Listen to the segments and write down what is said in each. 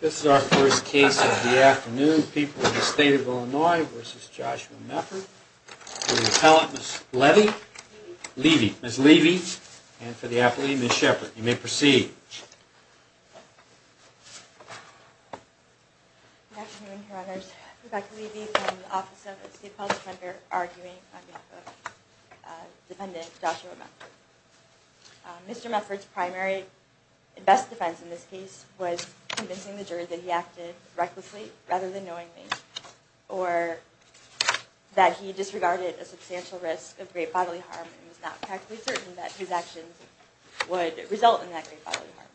This is our first case of the afternoon. People of the State of Illinois v. Joshua Mefford. For the appellant, Ms. Levy. Ms. Levy. And for the appellee, Ms. Shepard. You may proceed. Good afternoon, Your Honors. Rebecca Levy from the Office of the State Appellate Defender, arguing on behalf of defendant Joshua Mefford. Mr. Mefford's primary and best defense in this case was convincing the jury that he acted recklessly rather than knowingly, or that he disregarded a substantial risk of great bodily harm and was not practically certain that his actions would result in that great bodily harm.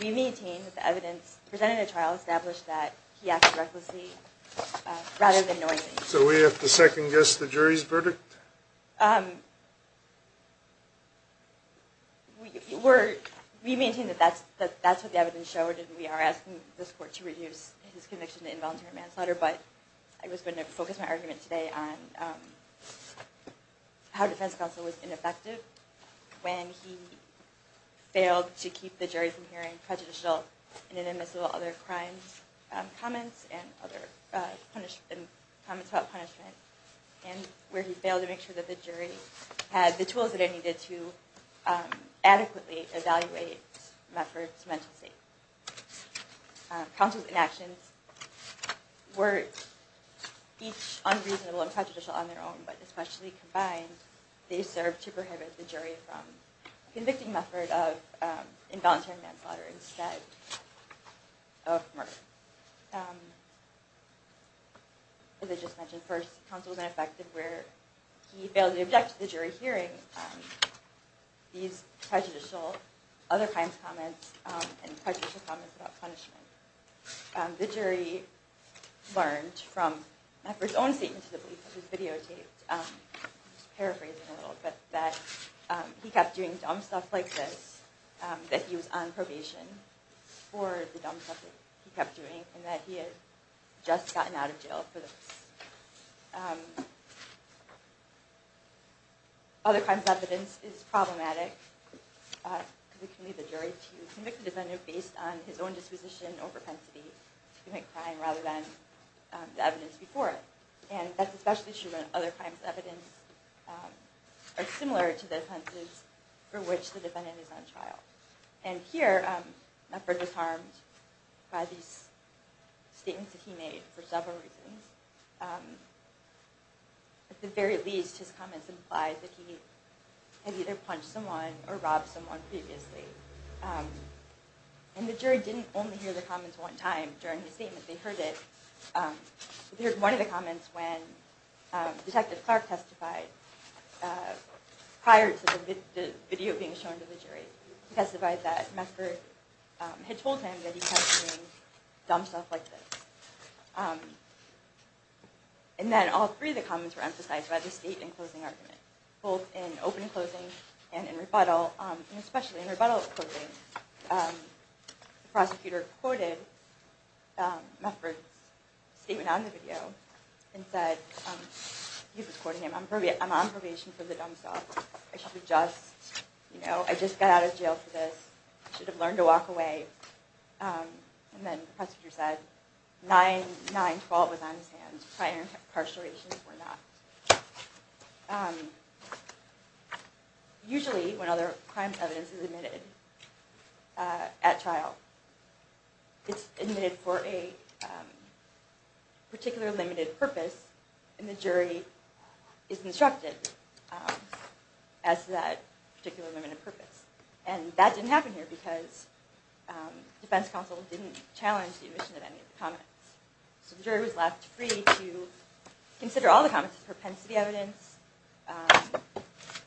We maintain that the evidence presented in the trial established that he acted recklessly rather than knowingly. So we have to second guess the jury's verdict? We maintain that that's what the evidence showed, and we are asking this court to reduce his conviction to involuntary manslaughter, but I was going to focus my argument today on how defense counsel was ineffective when he failed to keep the jury from hearing prejudicial and inadmissible other crimes, such as comments about punishment, and where he failed to make sure that the jury had the tools that it needed to adequately evaluate Mefford's mental state. Counsel's inactions were each unreasonable and prejudicial on their own, but especially combined, they served to prohibit the jury from convicting Mefford of involuntary manslaughter instead of murder. As I just mentioned, first, counsel was ineffective where he failed to object to the jury hearing these prejudicial other crimes comments and prejudicial comments about punishment. The jury learned from Mefford's own statement to the police, which was videotaped, just paraphrasing a little, but that he kept doing dumb stuff like this, that he was on probation for the dumb stuff that he kept doing, and that he had just gotten out of jail for this. Other crimes evidence is problematic because it can lead the jury to convict the defendant based on his own disposition or propensity to commit crime rather than the evidence before it, and that's especially true when other crimes evidence are similar to the offenses for which the defendant is on trial. And here, Mefford was harmed by these statements that he made for several reasons. At the very least, his comments implied that he had either punched someone or robbed someone previously. And the jury didn't only hear the comments one time during his statement. They heard one of the comments when Detective Clark testified prior to the video being shown to the jury. He testified that Mefford had told him that he kept doing dumb stuff like this. And then all three of the comments were emphasized by the state and closing argument, both in open closing and in rebuttal, and especially in rebuttal closing. The prosecutor quoted Mefford's statement on the video and said, he was quoting him, I'm on probation for the dumb stuff. I should have just, you know, I just got out of jail for this. I should have learned to walk away. And then the prosecutor said, 9-9-12 was on his hands. Prior incarceration were not. Usually when other crimes evidence is admitted at trial, it's admitted for a particular limited purpose, and the jury is instructed as to that particular limited purpose. And that didn't happen here because the defense counsel didn't challenge the admission of any of the comments. So the jury was left free to consider all the comments as propensity evidence,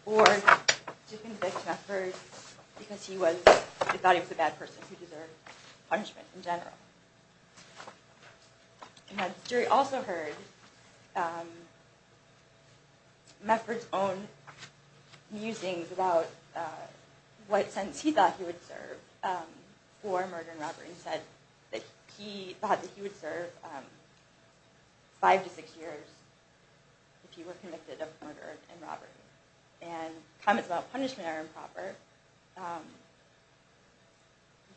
or to convict Mefford because he was, they thought he was a bad person who deserved punishment in general. And the jury also heard Mefford's own musings about what sentence he thought he would serve for murder and robbery. And Mefford said that he thought that he would serve five to six years if he were convicted of murder and robbery. And comments about punishment are improper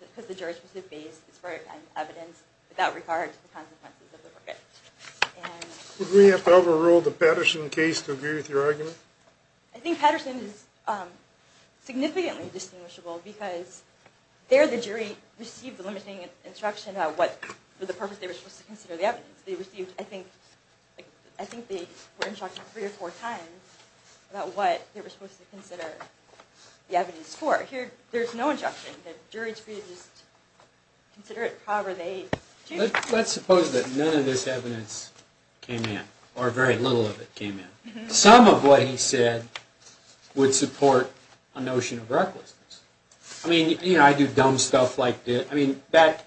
because the jury's specific base is for evidence without regard to the consequences of the verdict. Would we have to overrule the Patterson case to agree with your argument? I think Patterson is significantly distinguishable because there the jury received the limiting instruction about what, for the purpose they were supposed to consider the evidence. They received, I think, I think they were instructed three or four times about what they were supposed to consider the evidence for. Here there's no instruction. The jury's free to just consider it however they choose. Let's suppose that none of this evidence came in, or very little of it came in. Some of what he said would support a notion of recklessness. I mean, you know, I do dumb stuff like this. I mean, that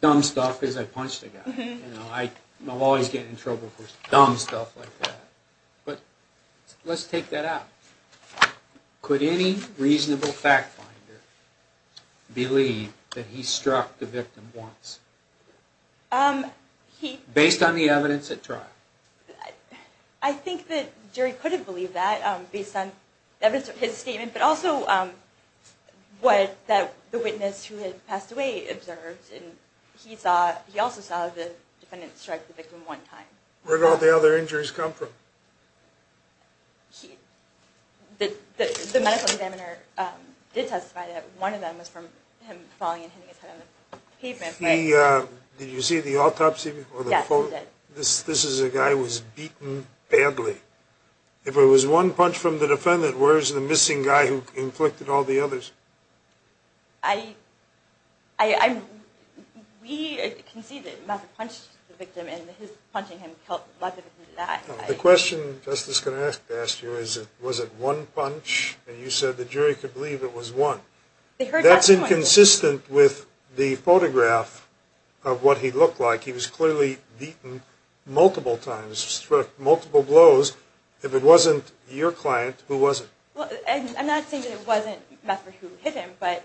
dumb stuff is, I punched a guy. You know, I'm always getting in trouble for dumb stuff like that. But let's take that out. Could any reasonable fact finder believe that he struck the victim once? Based on the evidence at trial? I think that jury could have believed that based on evidence of his statement, but also what the witness who had passed away observed. He also saw the defendant strike the victim one time. Where did all the other injuries come from? The medical examiner did testify that one of them was from him falling and hitting his head on the pavement. Did you see the autopsy report? Yes, I did. This is a guy who was beaten badly. If it was one punch from the defendant, where is the missing guy who inflicted all the others? We can see that Matthew punched the victim, and his punching him killed Matthew. The question the Justice is going to ask you is, was it one punch? And you said the jury could believe it was one. That's inconsistent with the photograph of what he looked like. He was clearly beaten multiple times, struck multiple blows. If it wasn't your client, who was it? I'm not saying that it wasn't Matthew who hit him, but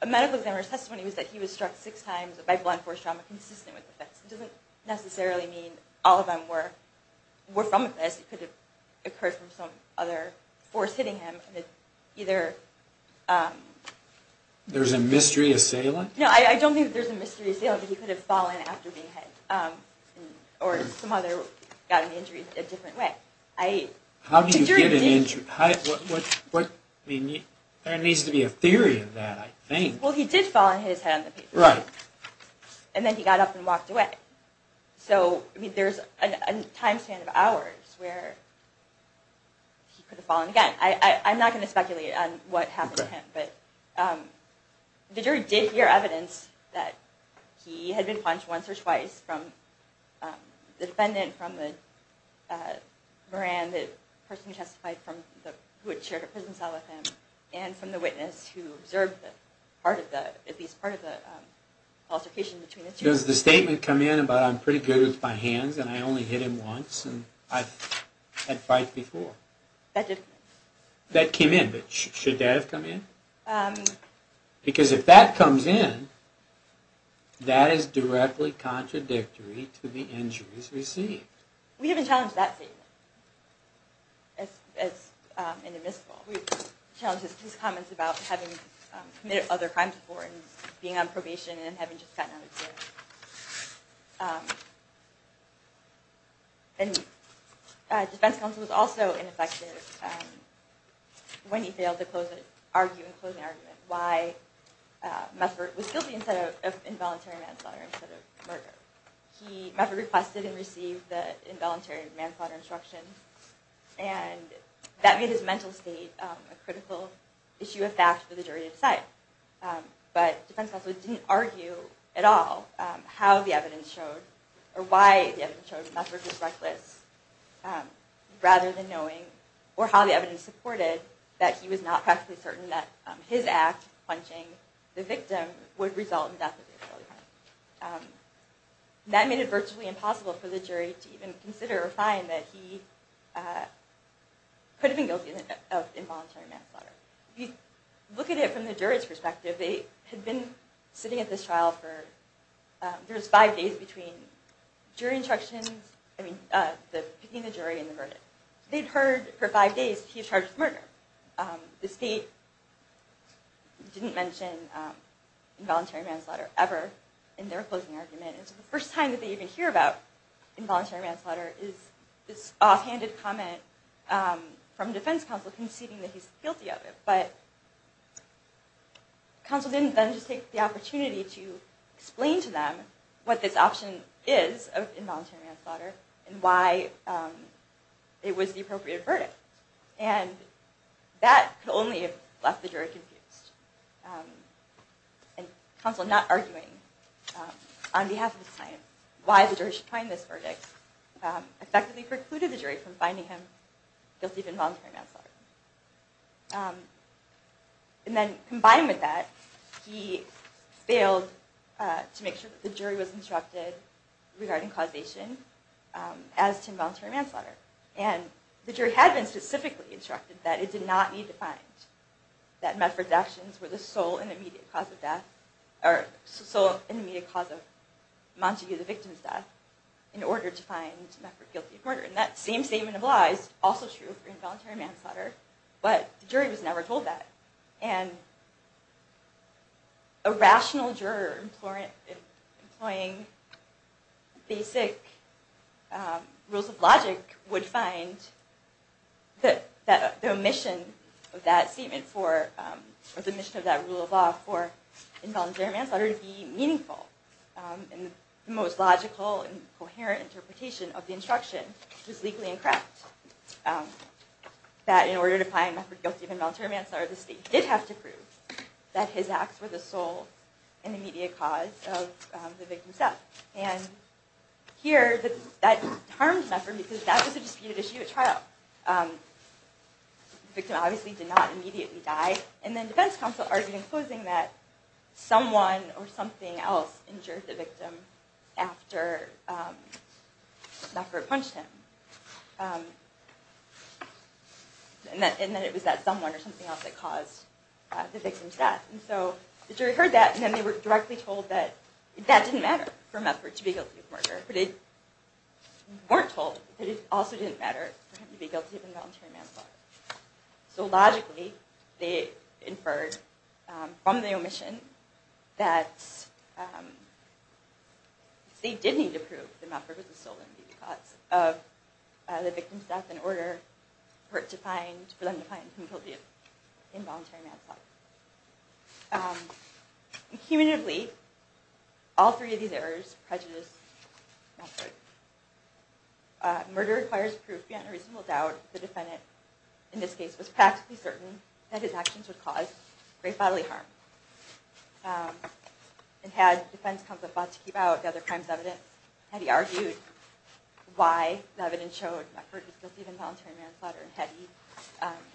a medical examiner's testimony was that he was struck six times by blunt force trauma consistent with the facts. It doesn't necessarily mean all of them were from this. It could have occurred from some other force hitting him. There's a mystery assailant? No, I don't think there's a mystery assailant, but he could have fallen after being hit. Or some other... got an injury a different way. How do you get an injury? There needs to be a theory in that, I think. Well, he did fall and hit his head on the pavement. Right. And then he got up and walked away. So there's a time span of hours where he could have fallen again. I'm not going to speculate on what happened to him, but the jury did hear evidence that he had been punched once or twice from the defendant, from the person who testified who had shared a prison cell with him, and from the witness who observed at least part of the altercation between the two. Does the statement come in about, I'm pretty good with my hands and I only hit him once and I've had fights before? That didn't come in. That came in, but should that have come in? Because if that comes in, that is directly contradictory to the injuries received. We haven't challenged that statement as an admissible. We've challenged his comments about having committed other crimes before and being on probation and having just gotten out of jail. The defense counsel was also ineffective when he failed to close an argument why Musbert was guilty of involuntary manslaughter instead of murder. Musbert requested and received the involuntary manslaughter instruction, and that made his mental state a critical issue of fact for the jury to decide. But defense counsel didn't argue at all how the evidence showed, or why the evidence showed Musbert was reckless, rather than knowing, or how the evidence supported, that he was not practically certain that his act, punching the victim, would result in the death of his family friend. That made it virtually impossible for the jury to even consider or find that he could have been guilty of involuntary manslaughter. If you look at it from the jury's perspective, they had been sitting at this trial for, there was five days between jury instructions, I mean, picking the jury and the verdict. They'd heard for five days he was charged with murder. The state didn't mention involuntary manslaughter ever in their closing argument. It was the first time that they even hear about involuntary manslaughter is this offhanded comment from defense counsel conceding that he's guilty of it. But counsel didn't then just take the opportunity to explain to them what this option is of involuntary manslaughter, and why it was the appropriate verdict. And that could only have left the jury confused. And counsel not arguing on behalf of the client why the jury should find this verdict effectively precluded the jury from finding him guilty of involuntary manslaughter. And then combined with that, he failed to make sure that the jury was instructed regarding causation as to involuntary manslaughter. And the jury had been specifically instructed that it did not need to find that Medford's actions were the sole and immediate cause of death, in order to find Medford guilty of murder. And that same statement of law is also true for involuntary manslaughter, but the jury was never told that. And a rational juror employing basic rules of logic would find that the omission of that statement or the omission of that rule of law for involuntary manslaughter to be meaningful. And the most logical and coherent interpretation of the instruction was legally incorrect. That in order to find Medford guilty of involuntary manslaughter, the state did have to prove that his acts were the sole and immediate cause of the victim's death. And here, that harmed Medford because that was a disputed issue at trial. The victim obviously did not immediately die. And then defense counsel argued in closing that someone or something else injured the victim after Medford punched him. And that it was that someone or something else that caused the victim's death. And so the jury heard that, and then they were directly told that that didn't matter for Medford to be guilty of murder. But they weren't told that it also didn't matter for him to be guilty of involuntary manslaughter. So logically, they inferred from the omission that the state did need to prove that Medford was the sole and immediate cause of the victim's death in order for them to find him guilty of involuntary manslaughter. Cumulatively, all three of these errors prejudice Medford. Murder requires proof, yet in a reasonable doubt, the defendant, in this case, was practically certain that his actions would cause grave bodily harm. And had defense counsel thought to keep out the other crime's evidence, had he argued why the evidence showed Medford was guilty of involuntary manslaughter, had he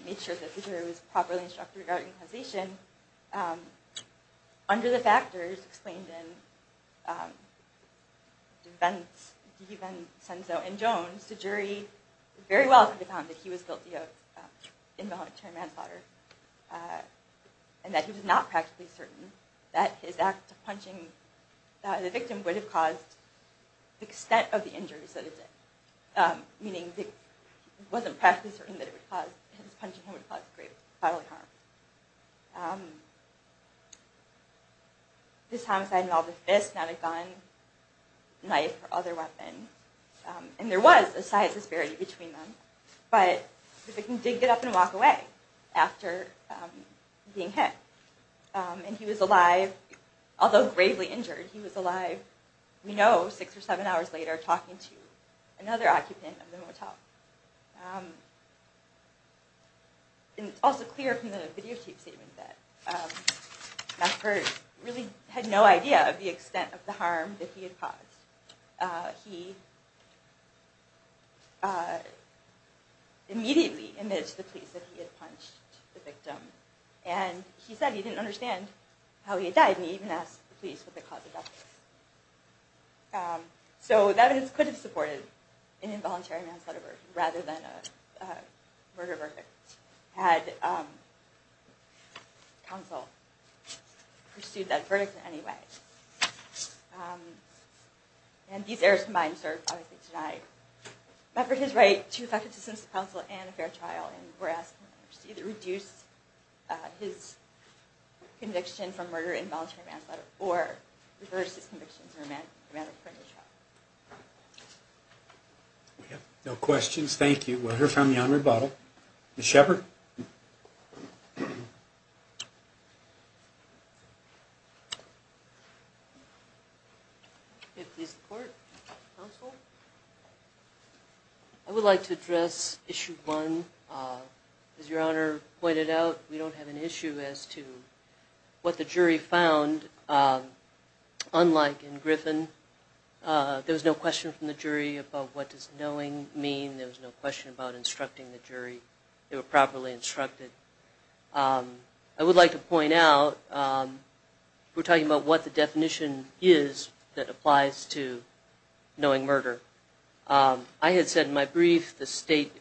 made sure that the jury was properly instructed regarding causation, under the factors explained in Devencenzo and Jones, the jury very well could have found that he was guilty of involuntary manslaughter and that he was not practically certain that his act of punching the victim would have caused the extent of the injuries that it did, meaning he wasn't practically certain that his punching him would cause grave bodily harm. This homicide involved a fist, not a gun, knife, or other weapon. And there was a size disparity between them. But the victim did get up and walk away after being hit. And he was alive, although gravely injured, he was alive, we know, six or seven hours later, talking to another occupant of the motel. And it's also clear from the videotape statement that Medford really had no idea of the extent of the harm that he had caused. He immediately admitted to the police that he had punched the victim. And he said he didn't understand how he had died, and he even asked the police what the cause of death was. So that could have supported an involuntary manslaughter verdict rather than a murder verdict, had counsel pursued that verdict in any way. And these errors combined served Medford to die. Medford is right to effective assistance to counsel and a fair trial, and we're asking members to either reduce his conviction from murder and involuntary manslaughter or reverse his convictions in a matter of criminal trial. We have no questions. Thank you. We'll hear from you on rebuttal. Ms. Sheppard? May it please the Court. Counsel? I would like to address Issue 1. As Your Honor pointed out, we don't have an issue as to what the jury found. Unlike in Griffin, there was no question from the jury about what does knowing mean. There was no question about instructing the jury. They were properly instructed. I would like to point out, we're talking about what the definition is that applies to knowing murder. I had said in my brief,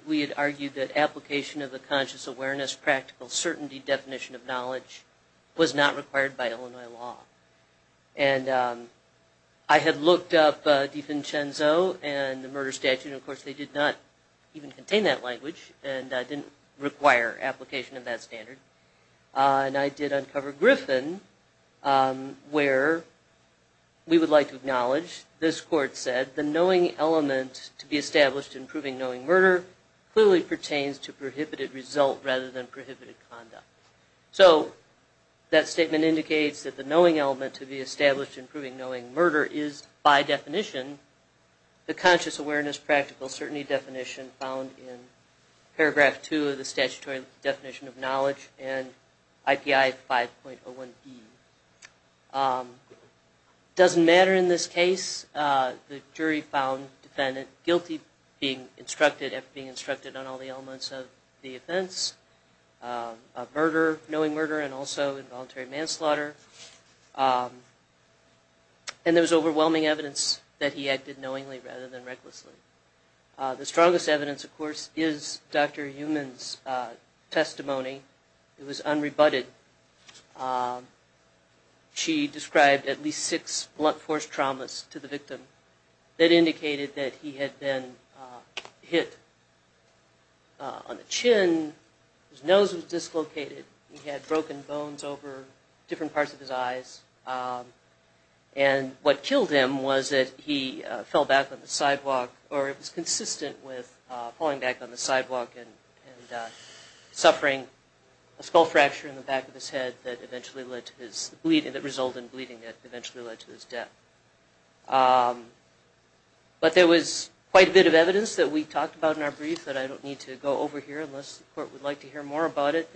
we had argued that application of the conscious awareness, practical certainty definition of knowledge was not required by Illinois law. And I had looked up DiVincenzo and the murder statute, and of course they did not even contain that language, and didn't require application of that standard. And I did uncover Griffin, where we would like to acknowledge, as this Court said, the knowing element to be established in proving knowing murder clearly pertains to prohibited result rather than prohibited conduct. So that statement indicates that the knowing element to be established in proving knowing murder is, by definition, the conscious awareness practical certainty definition found in Paragraph 2 of the Statutory Definition of Knowledge and IPI 5.01b. It doesn't matter in this case. The jury found defendant guilty being instructed on all the elements of the offense, of murder, knowing murder, and also involuntary manslaughter. And there was overwhelming evidence that he acted knowingly rather than recklessly. The strongest evidence, of course, is Dr. Heumann's testimony. It was unrebutted. She described at least six blunt force traumas to the victim that indicated that he had been hit on the chin. His nose was dislocated. He had broken bones over different parts of his eyes. And what killed him was that he fell back on the sidewalk, or it was consistent with falling back on the sidewalk and suffering a skull fracture in the back of his head that eventually led to his bleeding, that resulted in bleeding that eventually led to his death. But there was quite a bit of evidence that we talked about in our brief that I don't need to go over here unless the court would like to hear more about it,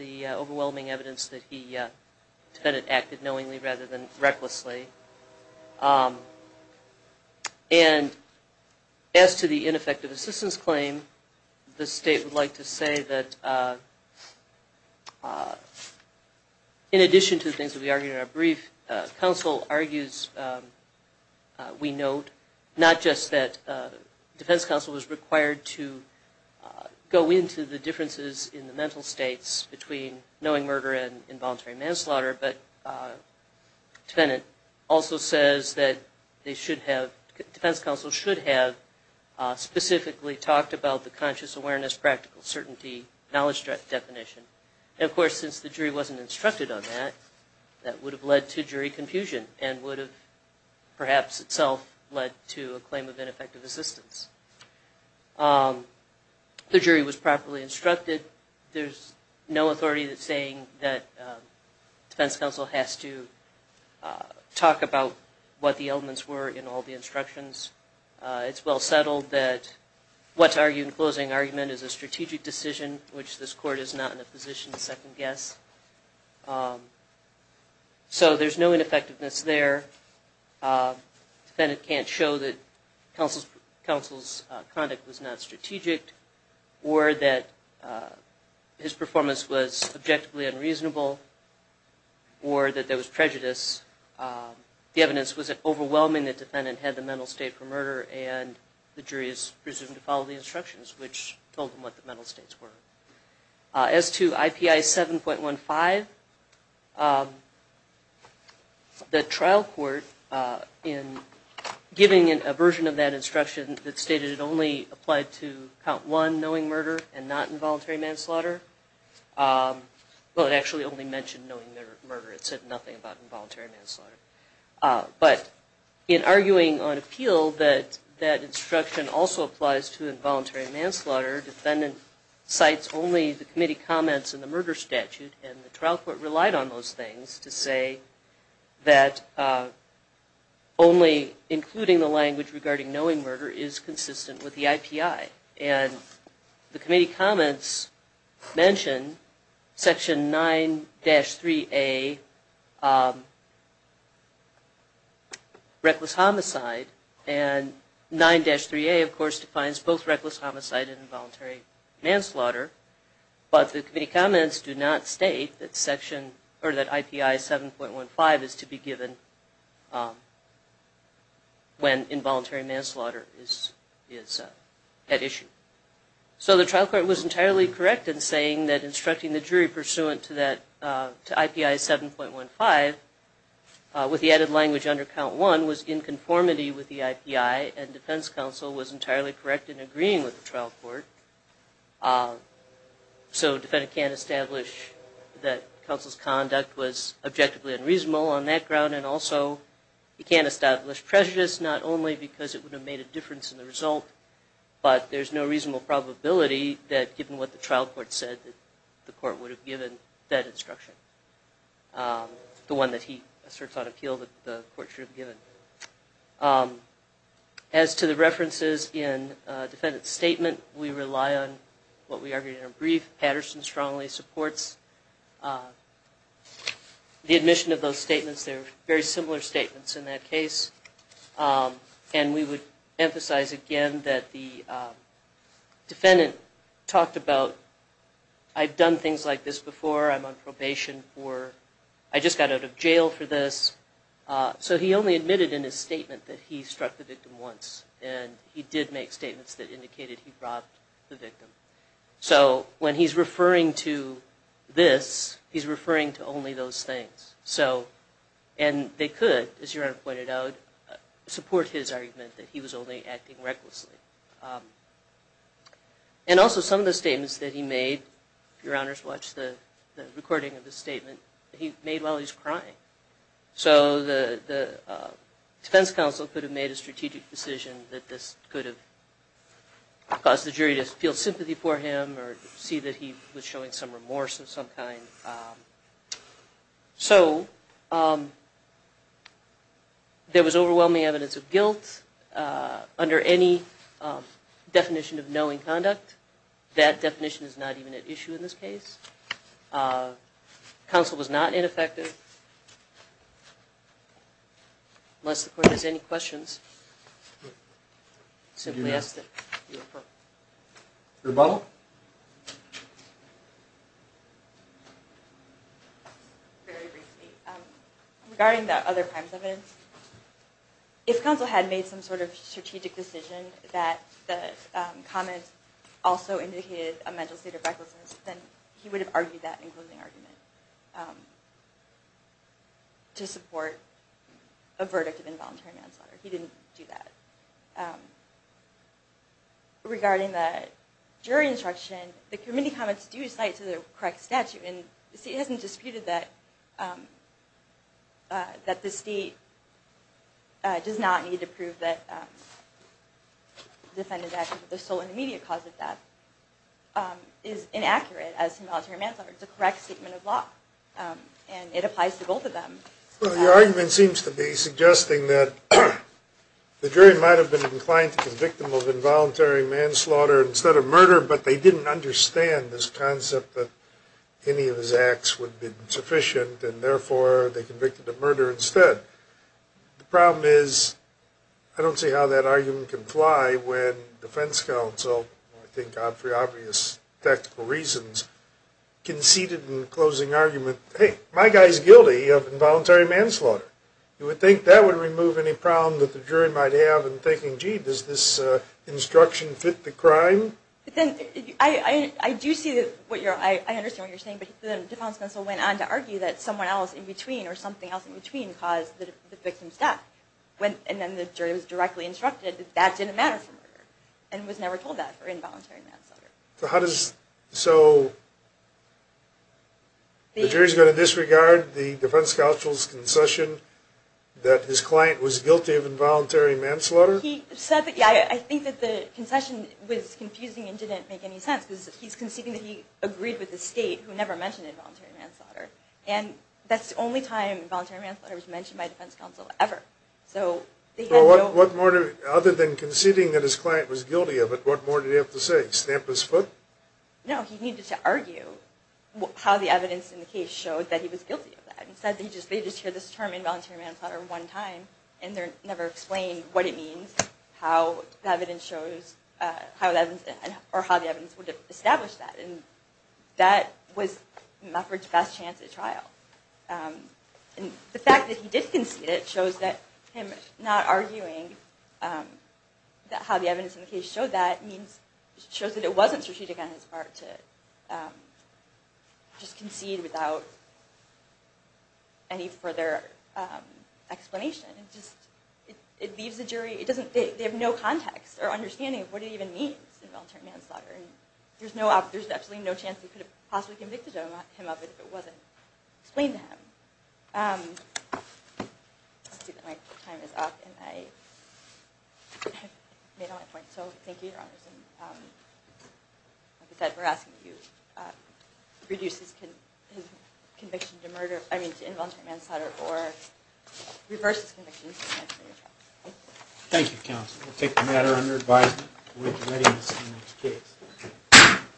And as to the ineffective assistance claim, the state would like to say that in addition to the things that we argued in our brief, counsel argues, we note, not just that defense counsel was required to go into the differences in the mental states between knowing murder and involuntary manslaughter, but defendant also says that defense counsel should have specifically talked about the conscious awareness, practical certainty, knowledge definition. And of course, since the jury wasn't instructed on that, that would have led to jury confusion and would have perhaps itself led to a claim of ineffective assistance. The jury was properly instructed. There's no authority that's saying that defense counsel has to talk about what the elements were in all the instructions. It's well settled that what's argued in closing argument is a strategic decision, which this court is not in a position to second guess. So there's no ineffectiveness there. Defendant can't show that counsel's conduct was not strategic or that his performance was objectively unreasonable or that there was prejudice. The evidence was overwhelming that defendant had the mental state for murder and the jury is presumed to follow the instructions, which told them what the mental states were. As to IPI 7.15, the trial court, in giving a version of that instruction that stated it only applied to count one, knowing murder and not involuntary manslaughter, well, it actually only mentioned knowing murder. It said nothing about involuntary manslaughter. But in arguing on appeal, that instruction also applies to involuntary manslaughter. Defendant cites only the committee comments in the murder statute, and the trial court relied on those things to say that only including the language regarding knowing murder is consistent with the IPI. And the committee comments mention Section 9-3A, reckless homicide, and 9-3A, of course, defines both reckless homicide and involuntary manslaughter, but the committee comments do not state that section, or that IPI 7.15 is to be given when involuntary manslaughter is at issue. So the trial court was entirely correct in saying that instructing the jury pursuant to IPI 7.15 with the added language under count one was in conformity with the IPI, and defense counsel was entirely correct in agreeing with the trial court. So defendant can't establish that counsel's conduct was objectively unreasonable on that ground, and also he can't establish prejudice, not only because it would have made a difference in the result, but there's no reasonable probability that, given what the trial court said, the court would have given that instruction. The one that he asserts on appeal that the court should have given. As to the references in defendant's statement, we rely on what we argued in our brief. Patterson strongly supports the admission of those statements. They're very similar statements in that case, and we would emphasize again that the defendant talked about, I've done things like this before, I'm on probation for, I just got out of jail for this. So he only admitted in his statement that he struck the victim once, and he did make statements that indicated he robbed the victim. So when he's referring to this, he's referring to only those things. And they could, as Yaron pointed out, support his argument that he was only acting recklessly. And also some of the statements that he made, if your honors watched the recording of his statement, he made while he was crying. So the defense counsel could have made a strategic decision that this could have caused the jury to feel sympathy for him, or see that he was showing some remorse of some kind. So there was overwhelming evidence of guilt under any definition of knowing conduct. That definition is not even at issue in this case. Counsel was not ineffective. Unless the court has any questions, simply ask them. Rebuttal? Very briefly, regarding the other crimes evidence, if counsel had made some sort of strategic decision that the comments also indicated a mental state of recklessness, then he would have argued that in closing argument to support a verdict of involuntary manslaughter. He didn't do that. Regarding the jury instruction, the committee comments do cite to the correct statute, and the state hasn't disputed that the state does not need to prove that the sole and immediate cause of death is inaccurate as to involuntary manslaughter. It's a correct statement of law. And it applies to both of them. Well, your argument seems to be suggesting that the jury might have been inclined to convict him of involuntary manslaughter instead of murder, but they didn't understand this concept that any of his acts would be insufficient, and therefore they convicted him of murder instead. The problem is, I don't see how that argument can fly when defense counsel, I think for obvious tactical reasons, conceded in closing argument, hey, my guy's guilty of involuntary manslaughter. You would think that would remove any problem that the jury might have in thinking, gee, does this instruction fit the crime? I do see what you're, I understand what you're saying, but defense counsel went on to argue that someone else in between or something else in between caused the victim's death, and then the jury was directly instructed that that didn't matter for murder, and was never told that for involuntary manslaughter. So how does, so the jury's going to disregard the defense counsel's concession that his client was guilty of involuntary manslaughter? He said that, yeah, I think that the concession was confusing and didn't make any sense, because he's conceding that he agreed with the state, who never mentioned involuntary manslaughter. And that's the only time involuntary manslaughter was mentioned by defense counsel ever. So they had no... Well, what more, other than conceding that his client was guilty of it, what more did he have to say, stamp his foot? No, he needed to argue how the evidence in the case showed that he was guilty of that. Instead, they just hear this term involuntary manslaughter one time, and they're never explained what it means, how the evidence shows, or how the evidence would establish that. And that was Mufford's best chance at trial. And the fact that he did concede it shows that him not arguing how the evidence in the case showed that, shows that it wasn't strategic on his part to just concede without any further explanation. It leaves the jury... They have no context or understanding of what it even means, involuntary manslaughter. There's absolutely no chance they could have possibly convicted him of it if it wasn't explained to him. I see that my time is up, and I have made all my points. So thank you, Your Honors. Like I said, we're asking that you reduce his conviction to murder, I mean to involuntary manslaughter, or reverse his conviction to manslaughter trial. Thank you, counsel. We'll take the matter under advisement. We look forward to reading this in the next case.